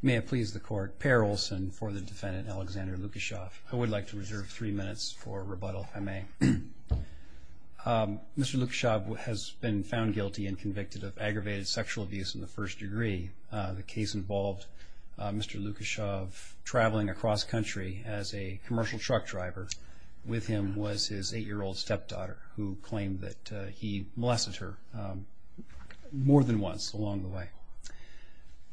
May it please the court, Per Olson for the defendant Alexander Lukashov. I would like to reserve three minutes for rebuttal if I may. Mr. Lukashov has been found guilty and convicted of aggravated sexual abuse in the first degree. The case involved Mr. Lukashov traveling across country as a commercial truck driver. With him was his eight-year-old stepdaughter who claimed that he molested her more than once along the way.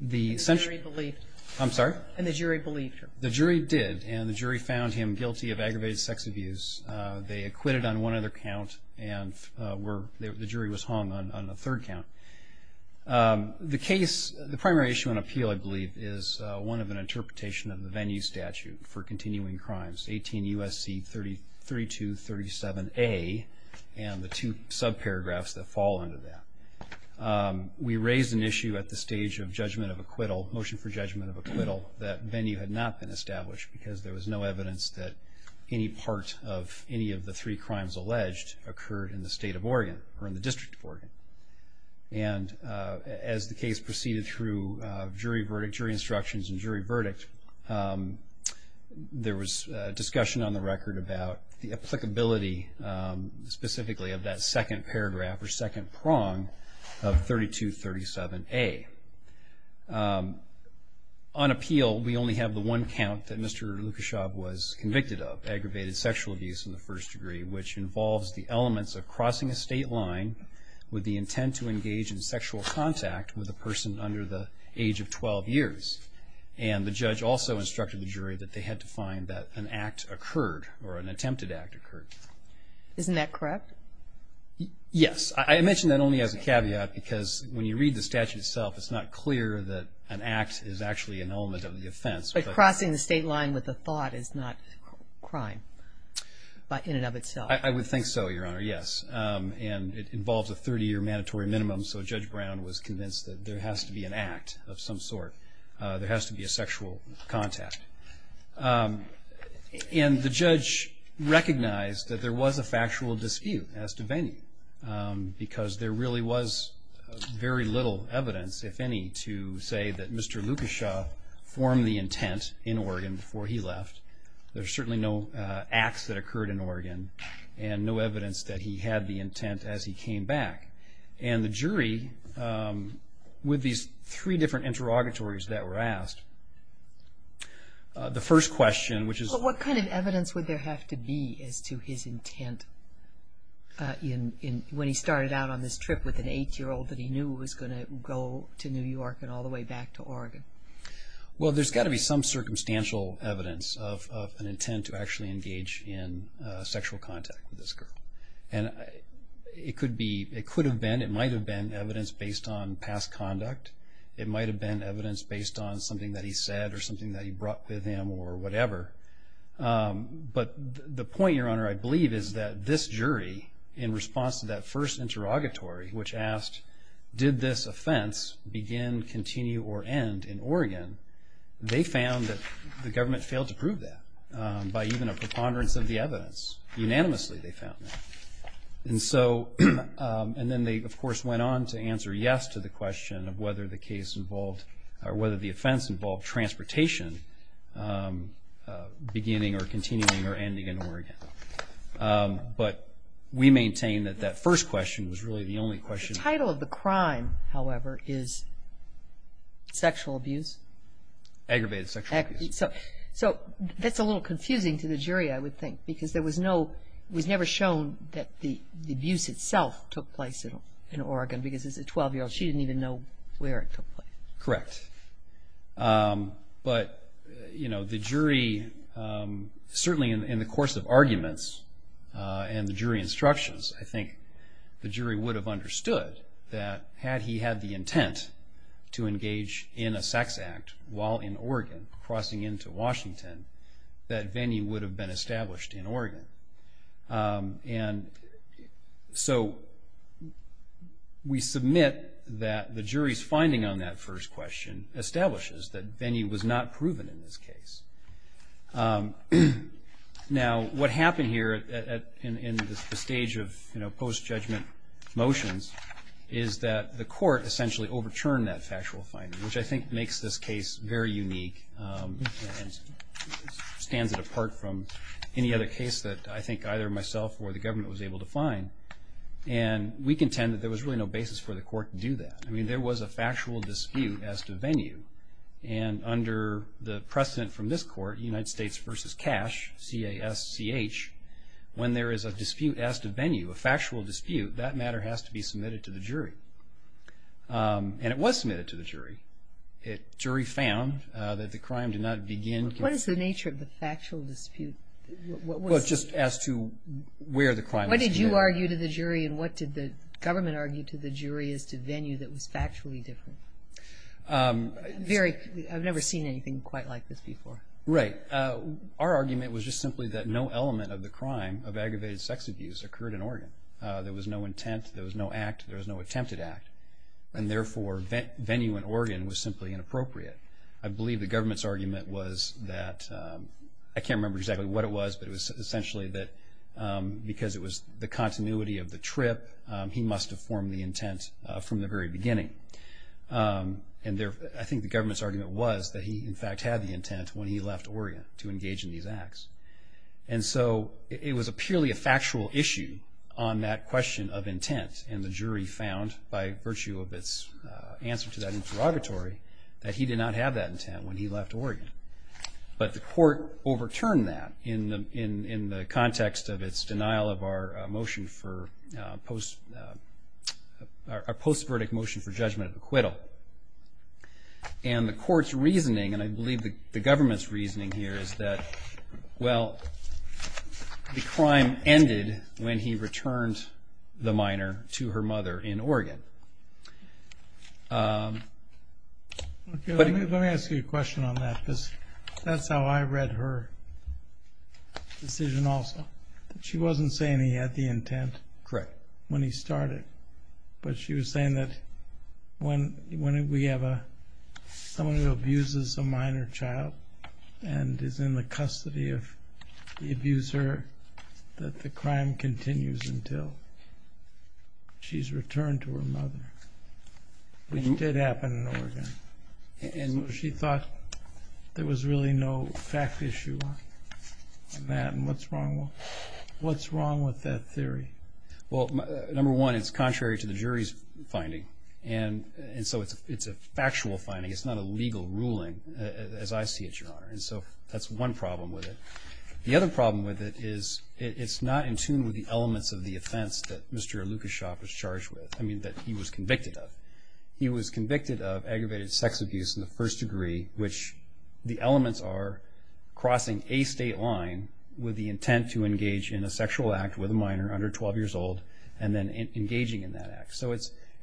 The jury believed him. I'm sorry? And the jury believed him. The jury did and the jury found him guilty of aggravated sex abuse. They acquitted on one other count and the jury was hung on a third count. The case, the primary issue on appeal I believe is one of an interpretation of the venue statute for continuing crimes 18 U.S.C. 3237A and the two subparagraphs that fall under that. We raised an issue at the stage of judgment of acquittal, motion for judgment of acquittal, that venue had not been established because there was no evidence that any part of any of the three crimes alleged occurred in the state of Oregon or in the District of Oregon. And as the case proceeded through jury verdict, jury instructions and jury specifically of that second paragraph or second prong of 3237A. On appeal we only have the one count that Mr. Lukashov was convicted of, aggravated sexual abuse in the first degree, which involves the elements of crossing a state line with the intent to engage in sexual contact with a person under the age of 12 years. And the judge also instructed the jury that they had to an attempted act occur. Isn't that correct? Yes. I mentioned that only as a caveat because when you read the statute itself it's not clear that an act is actually an element of the offense. But crossing the state line with the thought is not crime in and of itself. I would think so, Your Honor, yes. And it involves a 30-year mandatory minimum, so Judge Brown was convinced that there has to be an act of some sort. There has to be a sexual contact. And the judge recognized that there was a factual dispute as to Vaney because there really was very little evidence, if any, to say that Mr. Lukashov formed the intent in Oregon before he left. There's certainly no acts that occurred in Oregon and no There's three different interrogatories that were asked. The first question, which is... What kind of evidence would there have to be as to his intent when he started out on this trip with an eight-year-old that he knew was going to go to New York and all the way back to Oregon? Well, there's got to be some circumstantial evidence of an intent to actually engage in sexual contact with this girl. And it could be, it could have been, it might have been evidence based on past conduct it might have been evidence based on something that he said or something that he brought with him or whatever. But the point, Your Honor, I believe is that this jury, in response to that first interrogatory, which asked, did this offense begin, continue, or end in Oregon? They found that the government failed to prove that by even a preponderance of the evidence. Unanimously, they found that. And so, and then they, of course, went on to answer yes to the question of whether the case involved, or whether the offense involved, transportation beginning or continuing or ending in Oregon. But we maintain that that first question was really the only question. The title of the crime, however, is sexual abuse? Aggravated sexual abuse. So that's a little confusing to the jury, I would think, because there was no, it was never shown that the abuse itself took place in Oregon because as a 12-year-old, she didn't even know where it took place. Correct. But, you know, the jury, certainly in the course of arguments and the jury instructions, I think the jury would have understood that had he had the intent to engage in a sex act while in Oregon, crossing into Washington, that venue would have been established in Oregon. And so, we submit that the jury's finding on that first question establishes that venue was not proven in this case. Now, what happened here in the stage of, you know, post-judgment motions is that the court essentially overturned that factual finding, which I think makes this from any other case that I think either myself or the government was able to find. And we contend that there was really no basis for the court to do that. I mean, there was a factual dispute as to venue. And under the precedent from this court, United States v. Cash, C-A-S-C-H, when there is a dispute as to venue, a factual dispute, that matter has to be submitted to the jury. And it was submitted to the jury. The jury found that the crime did not begin... What is the nature of the factual dispute? Well, it's just as to where the crime was committed. What did you argue to the jury and what did the government argue to the jury as to venue that was factually different? I've never seen anything quite like this before. Right. Our argument was just simply that no element of the crime of aggravated sex abuse occurred in Oregon. There was no intent. There was no act. There was no attempted act. And therefore, venue in Oregon was simply inappropriate. I believe the government's argument was that... I can't remember exactly what it was, but it was essentially that because it was the continuity of the trip, he must have formed the intent from the very beginning. And I think the government's argument was that he, in fact, had the intent when he left Oregon to engage in these acts. And so it was purely a factual issue on that question of intent. And the jury found, by virtue of its answer to that interrogatory, that he did not have that intent when he left Oregon. But the court overturned that in the context of its denial of our motion for... our post-verdict motion for judgment of acquittal. And the court's reasoning, and I believe the government's reasoning here, is that, well, the crime ended when he returned the minor to her mother in Oregon. Let me ask you a question on that, because that's how I read her decision also. She wasn't saying he had the intent when he started. But she was saying that when we have someone who abuses a minor child and is in the custody of the abuser, that the crime continues until she's returned to her mother. Which did happen in Oregon. And she thought there was really no fact issue on that. And what's wrong with that theory? Well, number one, it's contrary to the jury's finding. And so it's a factual finding. It's not a legal ruling, as I see it, Your Honor. And so that's one problem with it. The other problem with it is it's not in tune with the elements of the offense that Mr. Lukashop was charged with. I mean, that he was convicted of. He was convicted of aggravated sex abuse in the first degree, which the elements are crossing a state line with the intent to engage in a sexual act with a minor under 12 years old and then engaging in that act. So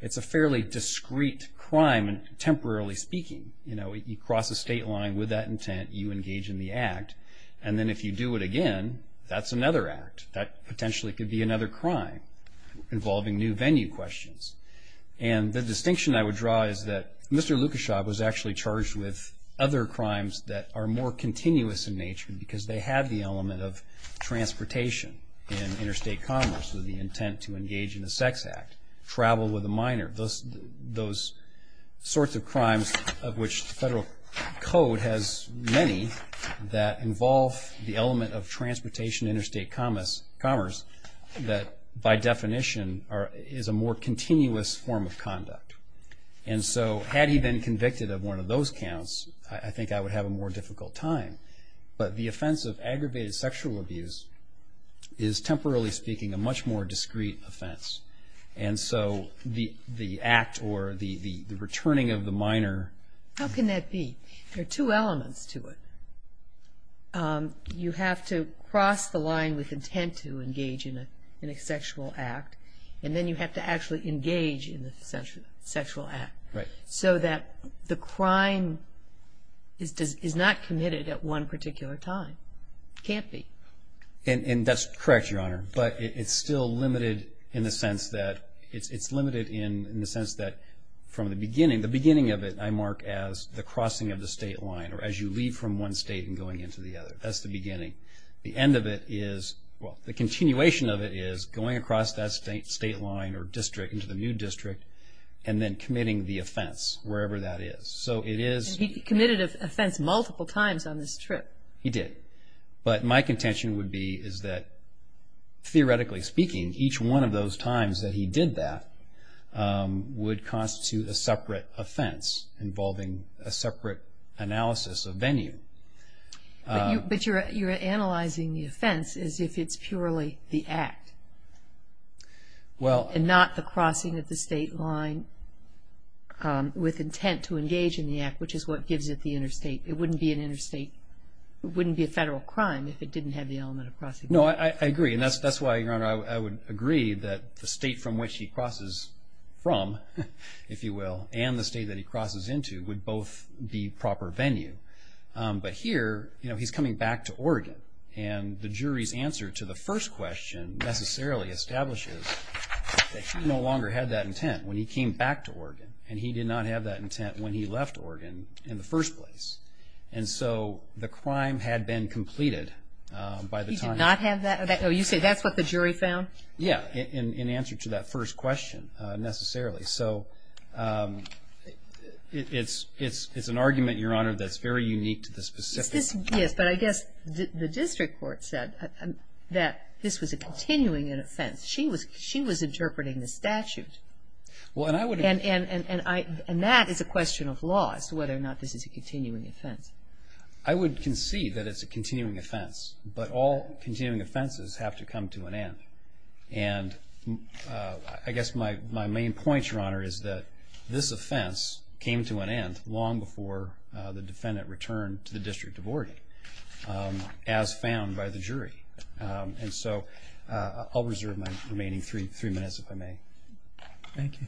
it's a fairly discreet crime, temporarily speaking. You cross a state line with that intent, you engage in the act, and then if you do it again, that's another act. That potentially could be another crime involving new venue questions. And the distinction I would draw is that Mr. Lukashop was actually charged with other crimes that are more continuous in nature because they have the element of transportation in interstate commerce with the intent to engage in a sex act, travel with a minor, those sorts of crimes of which the federal code has many that involve the element of transportation interstate commerce that by definition is a more continuous form of conduct. And so had he been convicted of one of those counts, I think I would have a more difficult time. But the offense of aggravated sexual abuse is, temporarily speaking, a much more discreet offense. And so the act or the returning of the minor... you have to cross the line with intent to engage in a sexual act and then you have to actually engage in the sexual act. So that the crime is not committed at one particular time. It can't be. And that's correct, Your Honor, but it's still limited in the sense that it's limited in the sense that from the beginning, the beginning of it I mark as the crossing of the state line or as you leave from one state and going into the other. That's the beginning. The end of it is... well, the continuation of it is going across that state line or district into the new district and then committing the offense, wherever that is. So it is... He committed an offense multiple times on this trip. He did. But my contention would be is that, theoretically speaking, each one of those times that he did that would constitute a separate offense involving a separate analysis of venue. But you're analyzing the offense as if it's purely the act. Well... And not the crossing of the state line with intent to engage in the act, which is what gives it the interstate. It wouldn't be an interstate... it wouldn't be a federal crime if it didn't have the element of crossing. No, I agree. And that's why, Your Honor, I would agree that the state from which he crosses from, if you will, and the state that he crosses into would both be proper venue. But here he's coming back to Oregon and the jury's answer to the first question necessarily establishes that he no longer had that intent when he came back to Oregon and he did not have that intent when he left Oregon in the first place. And so the crime had been completed by the time... So you say that's what the jury found? Yeah, in answer to that first question, necessarily. So it's an argument, Your Honor, that's very unique to the specifics. Yes, but I guess the district court said that this was a continuing offense. She was interpreting the statute. And that is a question of law, as to whether or not this is a continuing offense. I would concede that it's a continuing offense, but all continuing offenses have to come to an end. And I guess my main point, Your Honor, is that this offense came to an end long before the defendant returned to the District of Oregon, as found by the jury. And so I'll reserve my remaining three minutes, if I may. Thank you.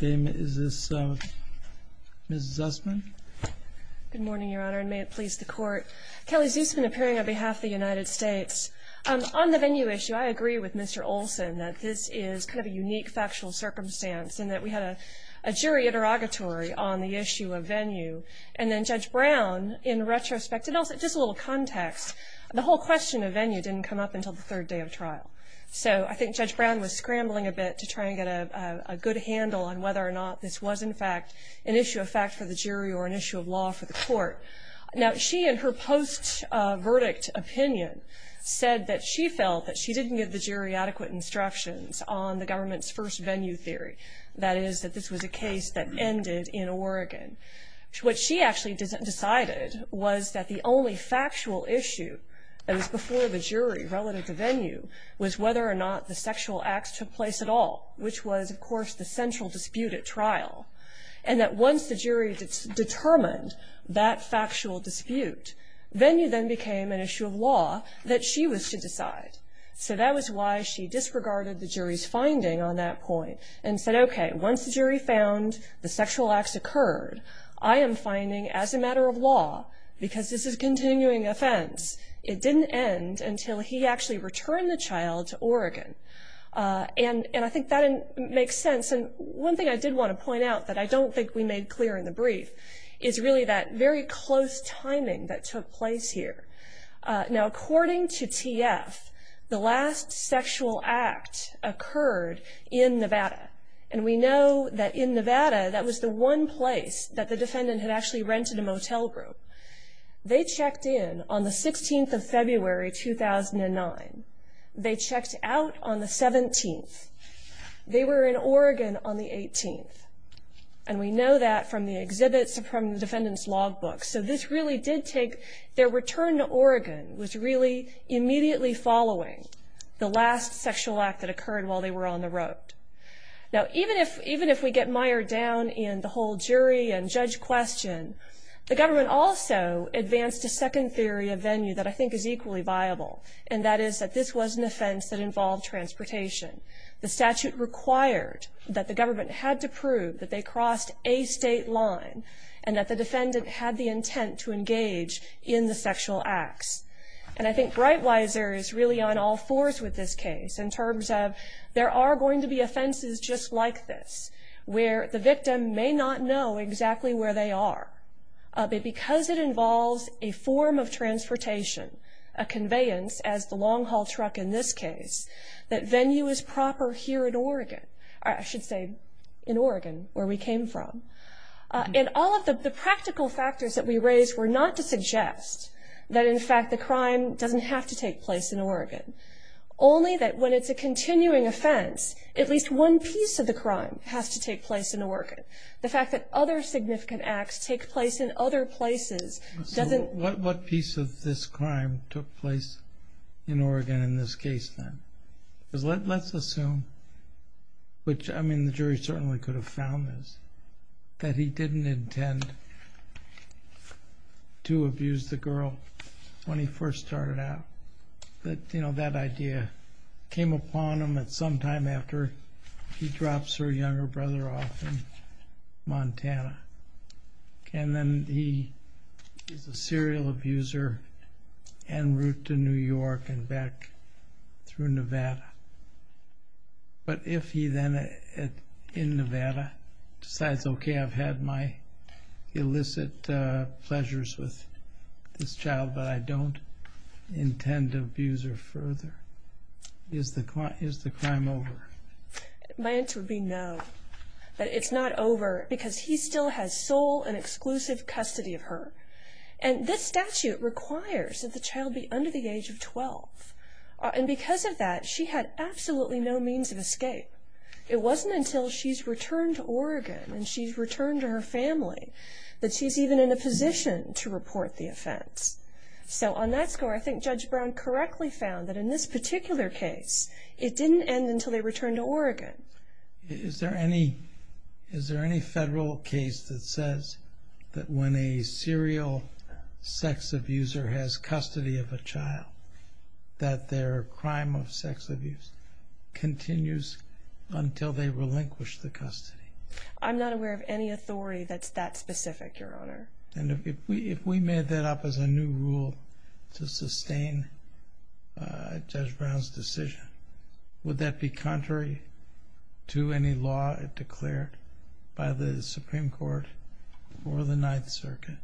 Is this Ms. Zussman? Good morning, Your Honor, and may it please the Court. Kelly Zussman, appearing on behalf of the United States. On the venue issue, I agree with Mr. Olson that this is kind of a unique factual circumstance in that we had a jury interrogatory on the issue of venue. And then Judge Brown, in retrospect, and also just a little context, the whole question of venue didn't come up until the third day of trial. So I think Judge Brown was scrambling a bit to try and get a good handle on whether or not this was, in fact, an issue of fact for the jury or an issue of law for the Court. Now, she, in her post-verdict opinion, said that she felt that she didn't give the jury adequate instructions on the government's first venue theory, that is, that this was a case that ended in Oregon. What she actually decided was that the only factual issue that was before the jury relative to venue was whether or not the sexual acts took place at all, which was, of course, the central dispute at trial, and that once the jury determined that factual dispute, venue then became an issue of law that she was to decide. So that was why she disregarded the jury's finding on that point and said, okay, once the jury found the sexual acts occurred, I am finding as a matter of law, because this is a continuing offense, it didn't end until he actually returned the child to Oregon. And I think that makes sense. And one thing I did want to point out that I don't think we made clear in the brief is really that very close timing that took place here. Now, according to TF, the last sexual act occurred in Nevada, and we know that in Nevada, that was the one place that the defendant had actually rented a motel room. They checked in on the 16th of February, 2009. They checked out on the 17th. They were in Oregon on the 18th, and we know that from the exhibits from the defendant's logbook. So this really did take their return to Oregon was really immediately following the last sexual act that occurred while they were on the road. Now, even if we get mired down in the whole jury and judge question, the government also advanced a second theory of venue that I think is equally viable, and that is that this was an offense that involved transportation. The statute required that the government had to prove that they crossed a state line and that the defendant had the intent to engage in the sexual acts. And I think Breitweiser is really on all fours with this case in terms of there are going to be offenses just like this, where the victim may not know exactly where they are, but because it involves a form of transportation, a conveyance as the long-haul truck in this case, that venue is proper here in Oregon, or I should say in Oregon where we came from. And all of the practical factors that we raised were not to suggest that, in fact, the crime doesn't have to take place in Oregon, only that when it's a continuing offense, the fact that other significant acts take place in other places doesn't... So what piece of this crime took place in Oregon in this case then? Because let's assume, which, I mean, the jury certainly could have found this, that he didn't intend to abuse the girl when he first started out, but, you know, that idea came upon him at some time after he drops her younger brother off in Montana. And then he is a serial abuser en route to New York and back through Nevada. But if he then, in Nevada, decides, it's okay, I've had my illicit pleasures with this child, but I don't intend to abuse her further, is the crime over? My answer would be no. But it's not over because he still has sole and exclusive custody of her. And this statute requires that the child be under the age of 12. And because of that, she had absolutely no means of escape. It wasn't until she's returned to Oregon and she's returned to her family that she's even in a position to report the offense. So on that score, I think Judge Brown correctly found that in this particular case, it didn't end until they returned to Oregon. Is there any federal case that says that when a serial sex abuser has custody of a child, that their crime of sex abuse continues until they relinquish the custody? I'm not aware of any authority that's that specific, Your Honor. And if we made that up as a new rule to sustain Judge Brown's decision, would that be contrary to any law declared by the Supreme Court or the Ninth Circuit?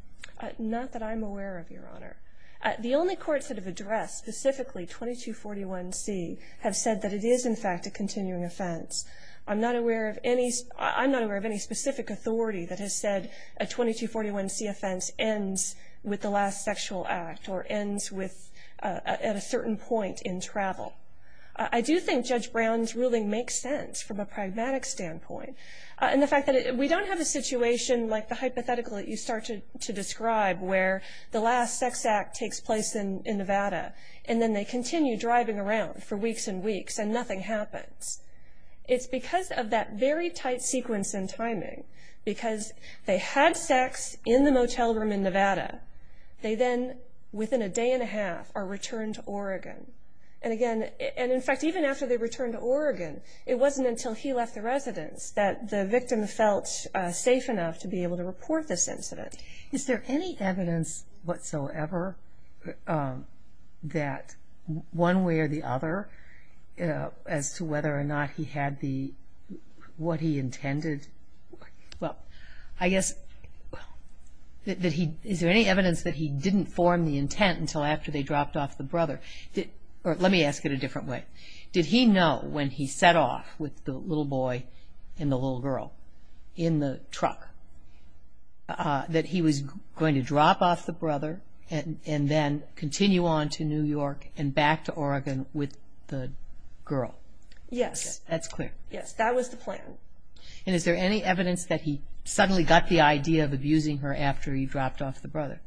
The only courts that have addressed specifically 2241C have said that it is, in fact, a continuing offense. I'm not aware of any specific authority that has said a 2241C offense ends with the last sexual act or ends at a certain point in travel. I do think Judge Brown's ruling makes sense from a pragmatic standpoint. And the fact that we don't have a situation like the hypothetical that you started to describe where the last sex act takes place in Nevada and then they continue driving around for weeks and weeks and nothing happens, it's because of that very tight sequence and timing. Because they had sex in the motel room in Nevada. They then, within a day and a half, are returned to Oregon. And, again, in fact, even after they returned to Oregon, it wasn't until he left the residence that the victim felt safe enough to be able to report this incident. Is there any evidence whatsoever that one way or the other as to whether or not he had what he intended? Well, I guess, is there any evidence that he didn't form the intent until after they dropped off the brother? Or let me ask it a different way. Did he know when he set off with the little boy and the little girl in the truck that he was going to drop off the brother and then continue on to New York and back to Oregon with the girl? Yes. That's clear. Yes, that was the plan. And is there any evidence that he suddenly got the idea of abusing her after he dropped off the brother?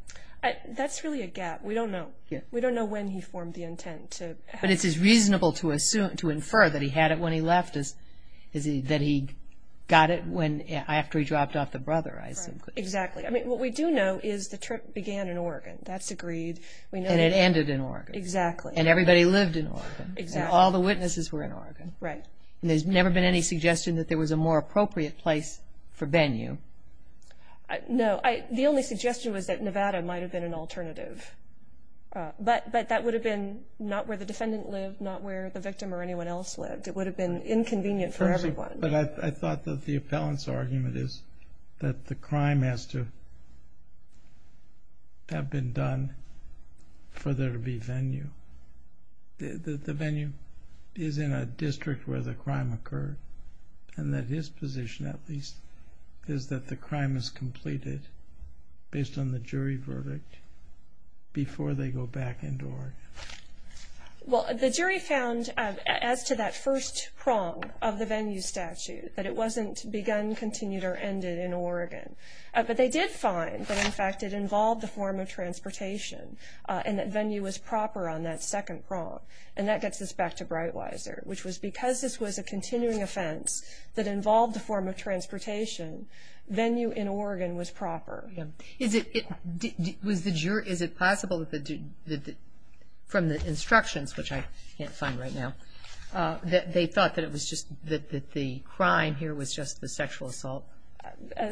That's really a gap. We don't know when he formed the intent. But it's reasonable to infer that he had it when he left, that he got it after he dropped off the brother, I assume. Exactly. I mean, what we do know is the trip began in Oregon. That's agreed. And it ended in Oregon. Exactly. And everybody lived in Oregon. Exactly. All the witnesses were in Oregon. Right. And there's never been any suggestion that there was a more appropriate place for venue? No. The only suggestion was that Nevada might have been an alternative. But that would have been not where the defendant lived, not where the victim or anyone else lived. It would have been inconvenient for everyone. But I thought that the appellant's argument is that the crime has to have been done for there to be venue. The venue is in a district where the crime occurred. And that his position, at least, is that the crime is completed based on the jury verdict before they go back into Oregon. Well, the jury found, as to that first prong of the venue statute, that it wasn't begun, continued, or ended in Oregon. But they did find that, in fact, it involved a form of transportation and that venue was proper on that second prong. And that gets us back to Breitweiser, which was because this was a continuing offense that involved a form of transportation, venue in Oregon was proper. Is it possible from the instructions, which I can't find right now, that they thought that the crime here was just the sexual assault?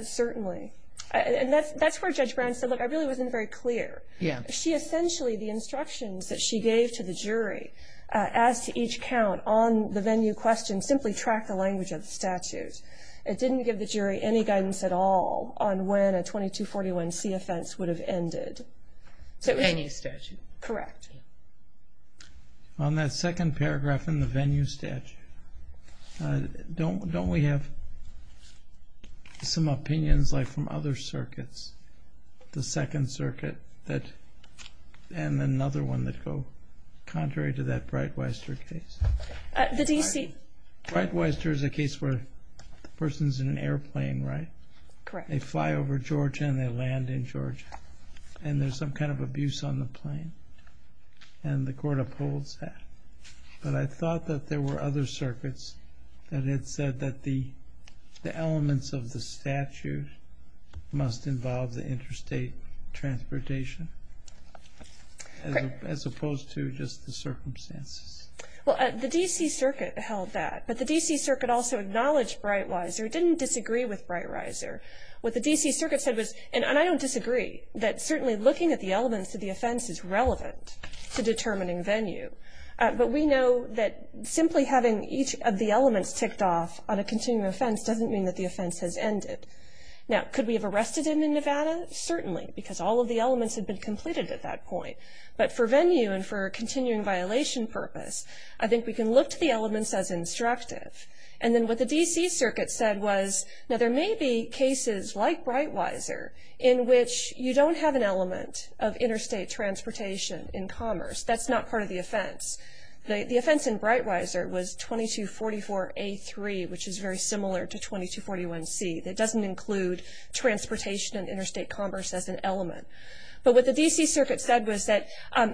Certainly. And that's where Judge Brown said, look, I really wasn't very clear. She essentially, the instructions that she gave to the jury, as to each count on the venue question, simply tracked the language of the statute. It didn't give the jury any guidance at all on when a 2241C offense would have ended. The venue statute. Correct. On that second paragraph in the venue statute, don't we have some opinions, like from other circuits, the Second Circuit and another one that go contrary to that Breitweiser case? The D.C. Breitweiser is a case where the person's in an airplane, right? Correct. They fly over Georgia and they land in Georgia. And there's some kind of abuse on the plane. And the court upholds that. But I thought that there were other circuits that had said that the elements of the statute must involve the interstate transportation, as opposed to just the circumstances. Well, the D.C. Circuit held that. But the D.C. Circuit also acknowledged Breitweiser. It didn't disagree with Breitweiser. What the D.C. Circuit said was, and I don't disagree, that certainly looking at the elements of the offense is relevant to determining venue. But we know that simply having each of the elements ticked off on a continuing offense doesn't mean that the offense has ended. Now, could we have arrested him in Nevada? Certainly, because all of the elements had been completed at that point. But for venue and for continuing violation purpose, I think we can look to the elements as instructive. And then what the D.C. Circuit said was, now, there may be cases like Breitweiser in which you don't have an element of interstate transportation in commerce. That's not part of the offense. The offense in Breitweiser was 2244A3, which is very similar to 2241C. That doesn't include transportation and interstate commerce as an element. But what the D.C. Circuit said was that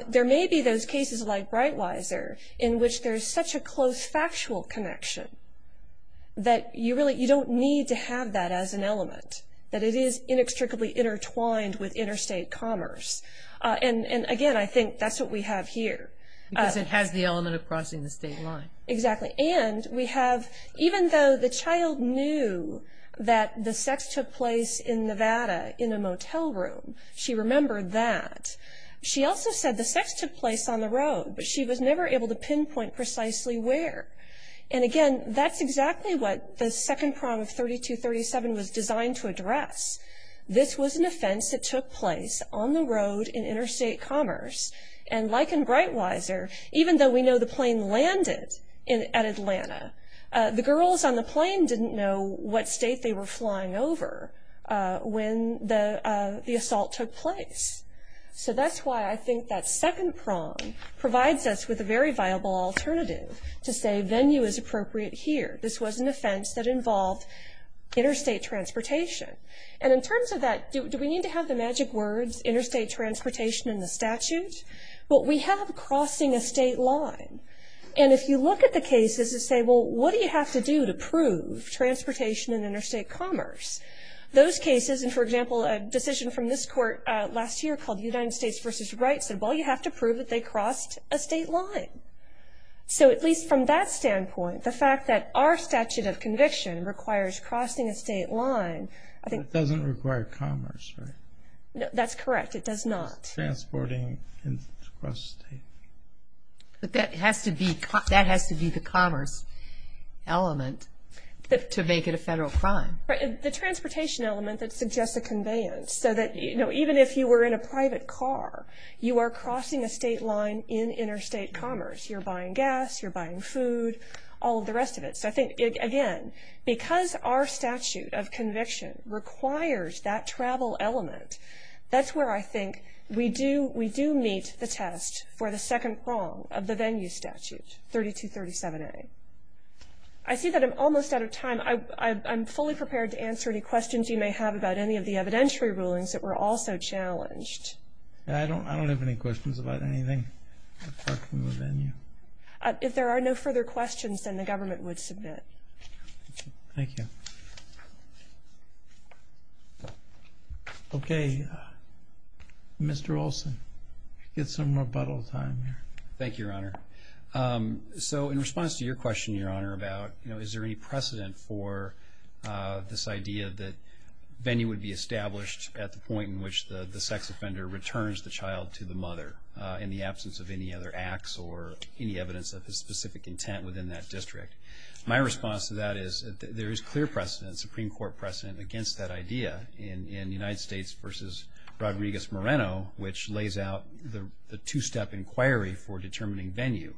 there may be those cases like Breitweiser in which there's such a close factual connection that you really don't need to have that as an element, that it is inextricably intertwined with interstate commerce. And, again, I think that's what we have here. Because it has the element of crossing the state line. Exactly. And we have, even though the child knew that the sex took place in Nevada in a state, she remembered that. She also said the sex took place on the road, but she was never able to pinpoint precisely where. And, again, that's exactly what the second prong of 3237 was designed to address. This was an offense that took place on the road in interstate commerce. And like in Breitweiser, even though we know the plane landed at Atlanta, the girls on the plane didn't know what state they were flying over when the plane took place. So that's why I think that second prong provides us with a very viable alternative to say venue is appropriate here. This was an offense that involved interstate transportation. And in terms of that, do we need to have the magic words interstate transportation in the statute? Well, we have crossing a state line. And if you look at the cases and say, well, what do you have to do to prove transportation and interstate commerce? Those cases, and, for example, a decision from this court last year called United States v. Wright said, well, you have to prove that they crossed a state line. So at least from that standpoint, the fact that our statute of conviction requires crossing a state line. It doesn't require commerce, right? That's correct. It does not. Transporting across the state. But that has to be the commerce element to make it a federal crime. The transportation element that suggests a conveyance. So that even if you were in a private car, you are crossing a state line in interstate commerce. You're buying gas. You're buying food. All of the rest of it. So I think, again, because our statute of conviction requires that travel element, that's where I think we do meet the test for the second prong of the venue statute, 3237A. I see that I'm almost out of time. I'm fully prepared to answer any questions you may have about any of the evidentiary rulings that were also challenged. I don't have any questions about anything. If there are no further questions, then the government would submit. Thank you. Okay. Mr. Olson, get some rebuttal time here. So in response to your question, Your Honor, about, you know, is there any precedent for this idea that venue would be established at the point in which the sex offender returns the child to the mother in the absence of any other acts or any evidence of his specific intent within that district? My response to that is there is clear precedent, Supreme Court precedent, against that idea in the United States versus Rodriguez-Moreno, which lays out the two-step inquiry for determining venue,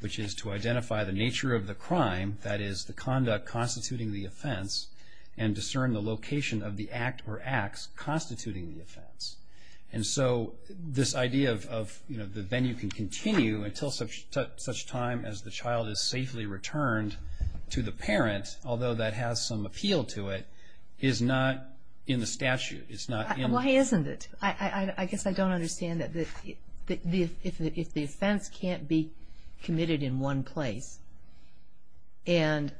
which is to identify the nature of the crime, that is the conduct constituting the offense, and discern the location of the act or acts constituting the offense. And so this idea of, you know, the venue can continue until such time as the child is safely returned to the parent, although that has some appeal to it, is not in the statute. It's not in the statute. Why isn't it? I guess I don't understand that if the offense can't be committed in one place and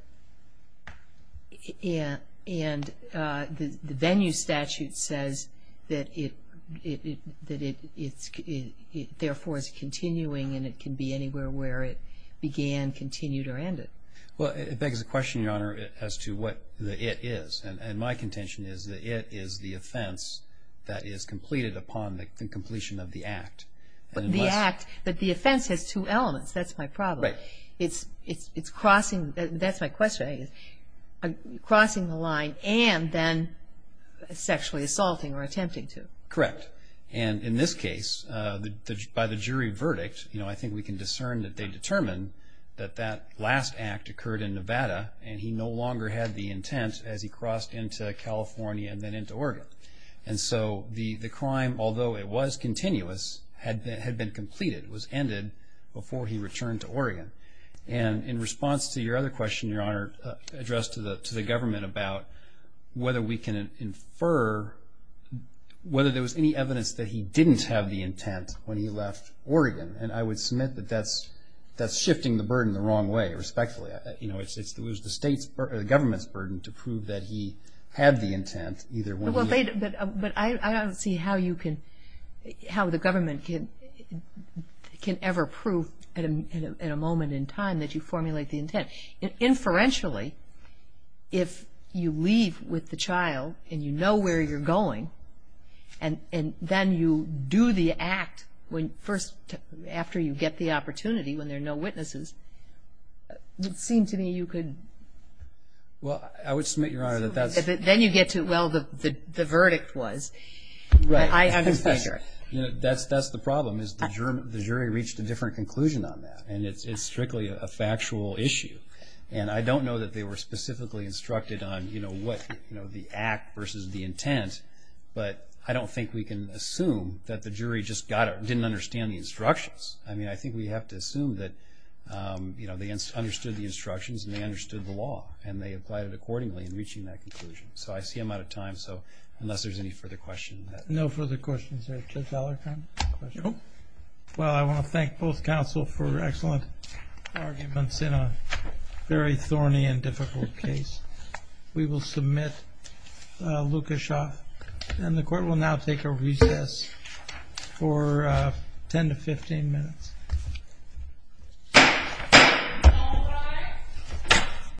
the venue statute says that it therefore is continuing and it can be anywhere where it began, continued, or ended. Well, it begs the question, Your Honor, as to what the it is. And my contention is that it is the offense that is completed upon the completion of the act. But the act, but the offense has two elements. That's my problem. Right. It's crossing, that's my question, crossing the line and then sexually assaulting or attempting to. Correct. And in this case, by the jury verdict, you know, I think we can discern that they determined that that last act occurred in Nevada and he no longer had the intent as he crossed into California and then into Oregon. And so the crime, although it was continuous, had been completed, was ended before he returned to Oregon. And in response to your other question, Your Honor, addressed to the government about whether we can infer whether there was any evidence that he didn't have the intent when he left Oregon. And I would submit that that's shifting the burden the wrong way, respectfully. You know, it was the government's burden to prove that he had the intent either when he left. But I don't see how the government can ever prove in a moment in time that you formulate the intent. Inferentially, if you leave with the child and you know where you're going and then you do the act first after you get the opportunity when there are no witnesses, it would seem to me you could. Well, I would submit, Your Honor, that that's. Then you get to, well, the verdict was. Right. I understand. That's the problem is the jury reached a different conclusion on that. And it's strictly a factual issue. And I don't know that they were specifically instructed on, you know, what the act versus the intent. But I don't think we can assume that the jury just didn't understand the instructions. I mean, I think we have to assume that, you know, they understood the instructions and they understood the law and they applied it accordingly in reaching that conclusion. So I see I'm out of time. So unless there's any further questions. No further questions there. Judge Allerton? No. Well, I want to thank both counsel for excellent arguments in a very thorny and difficult case. We will submit Lukashoff. And the court will now take a recess for 10 to 15 minutes.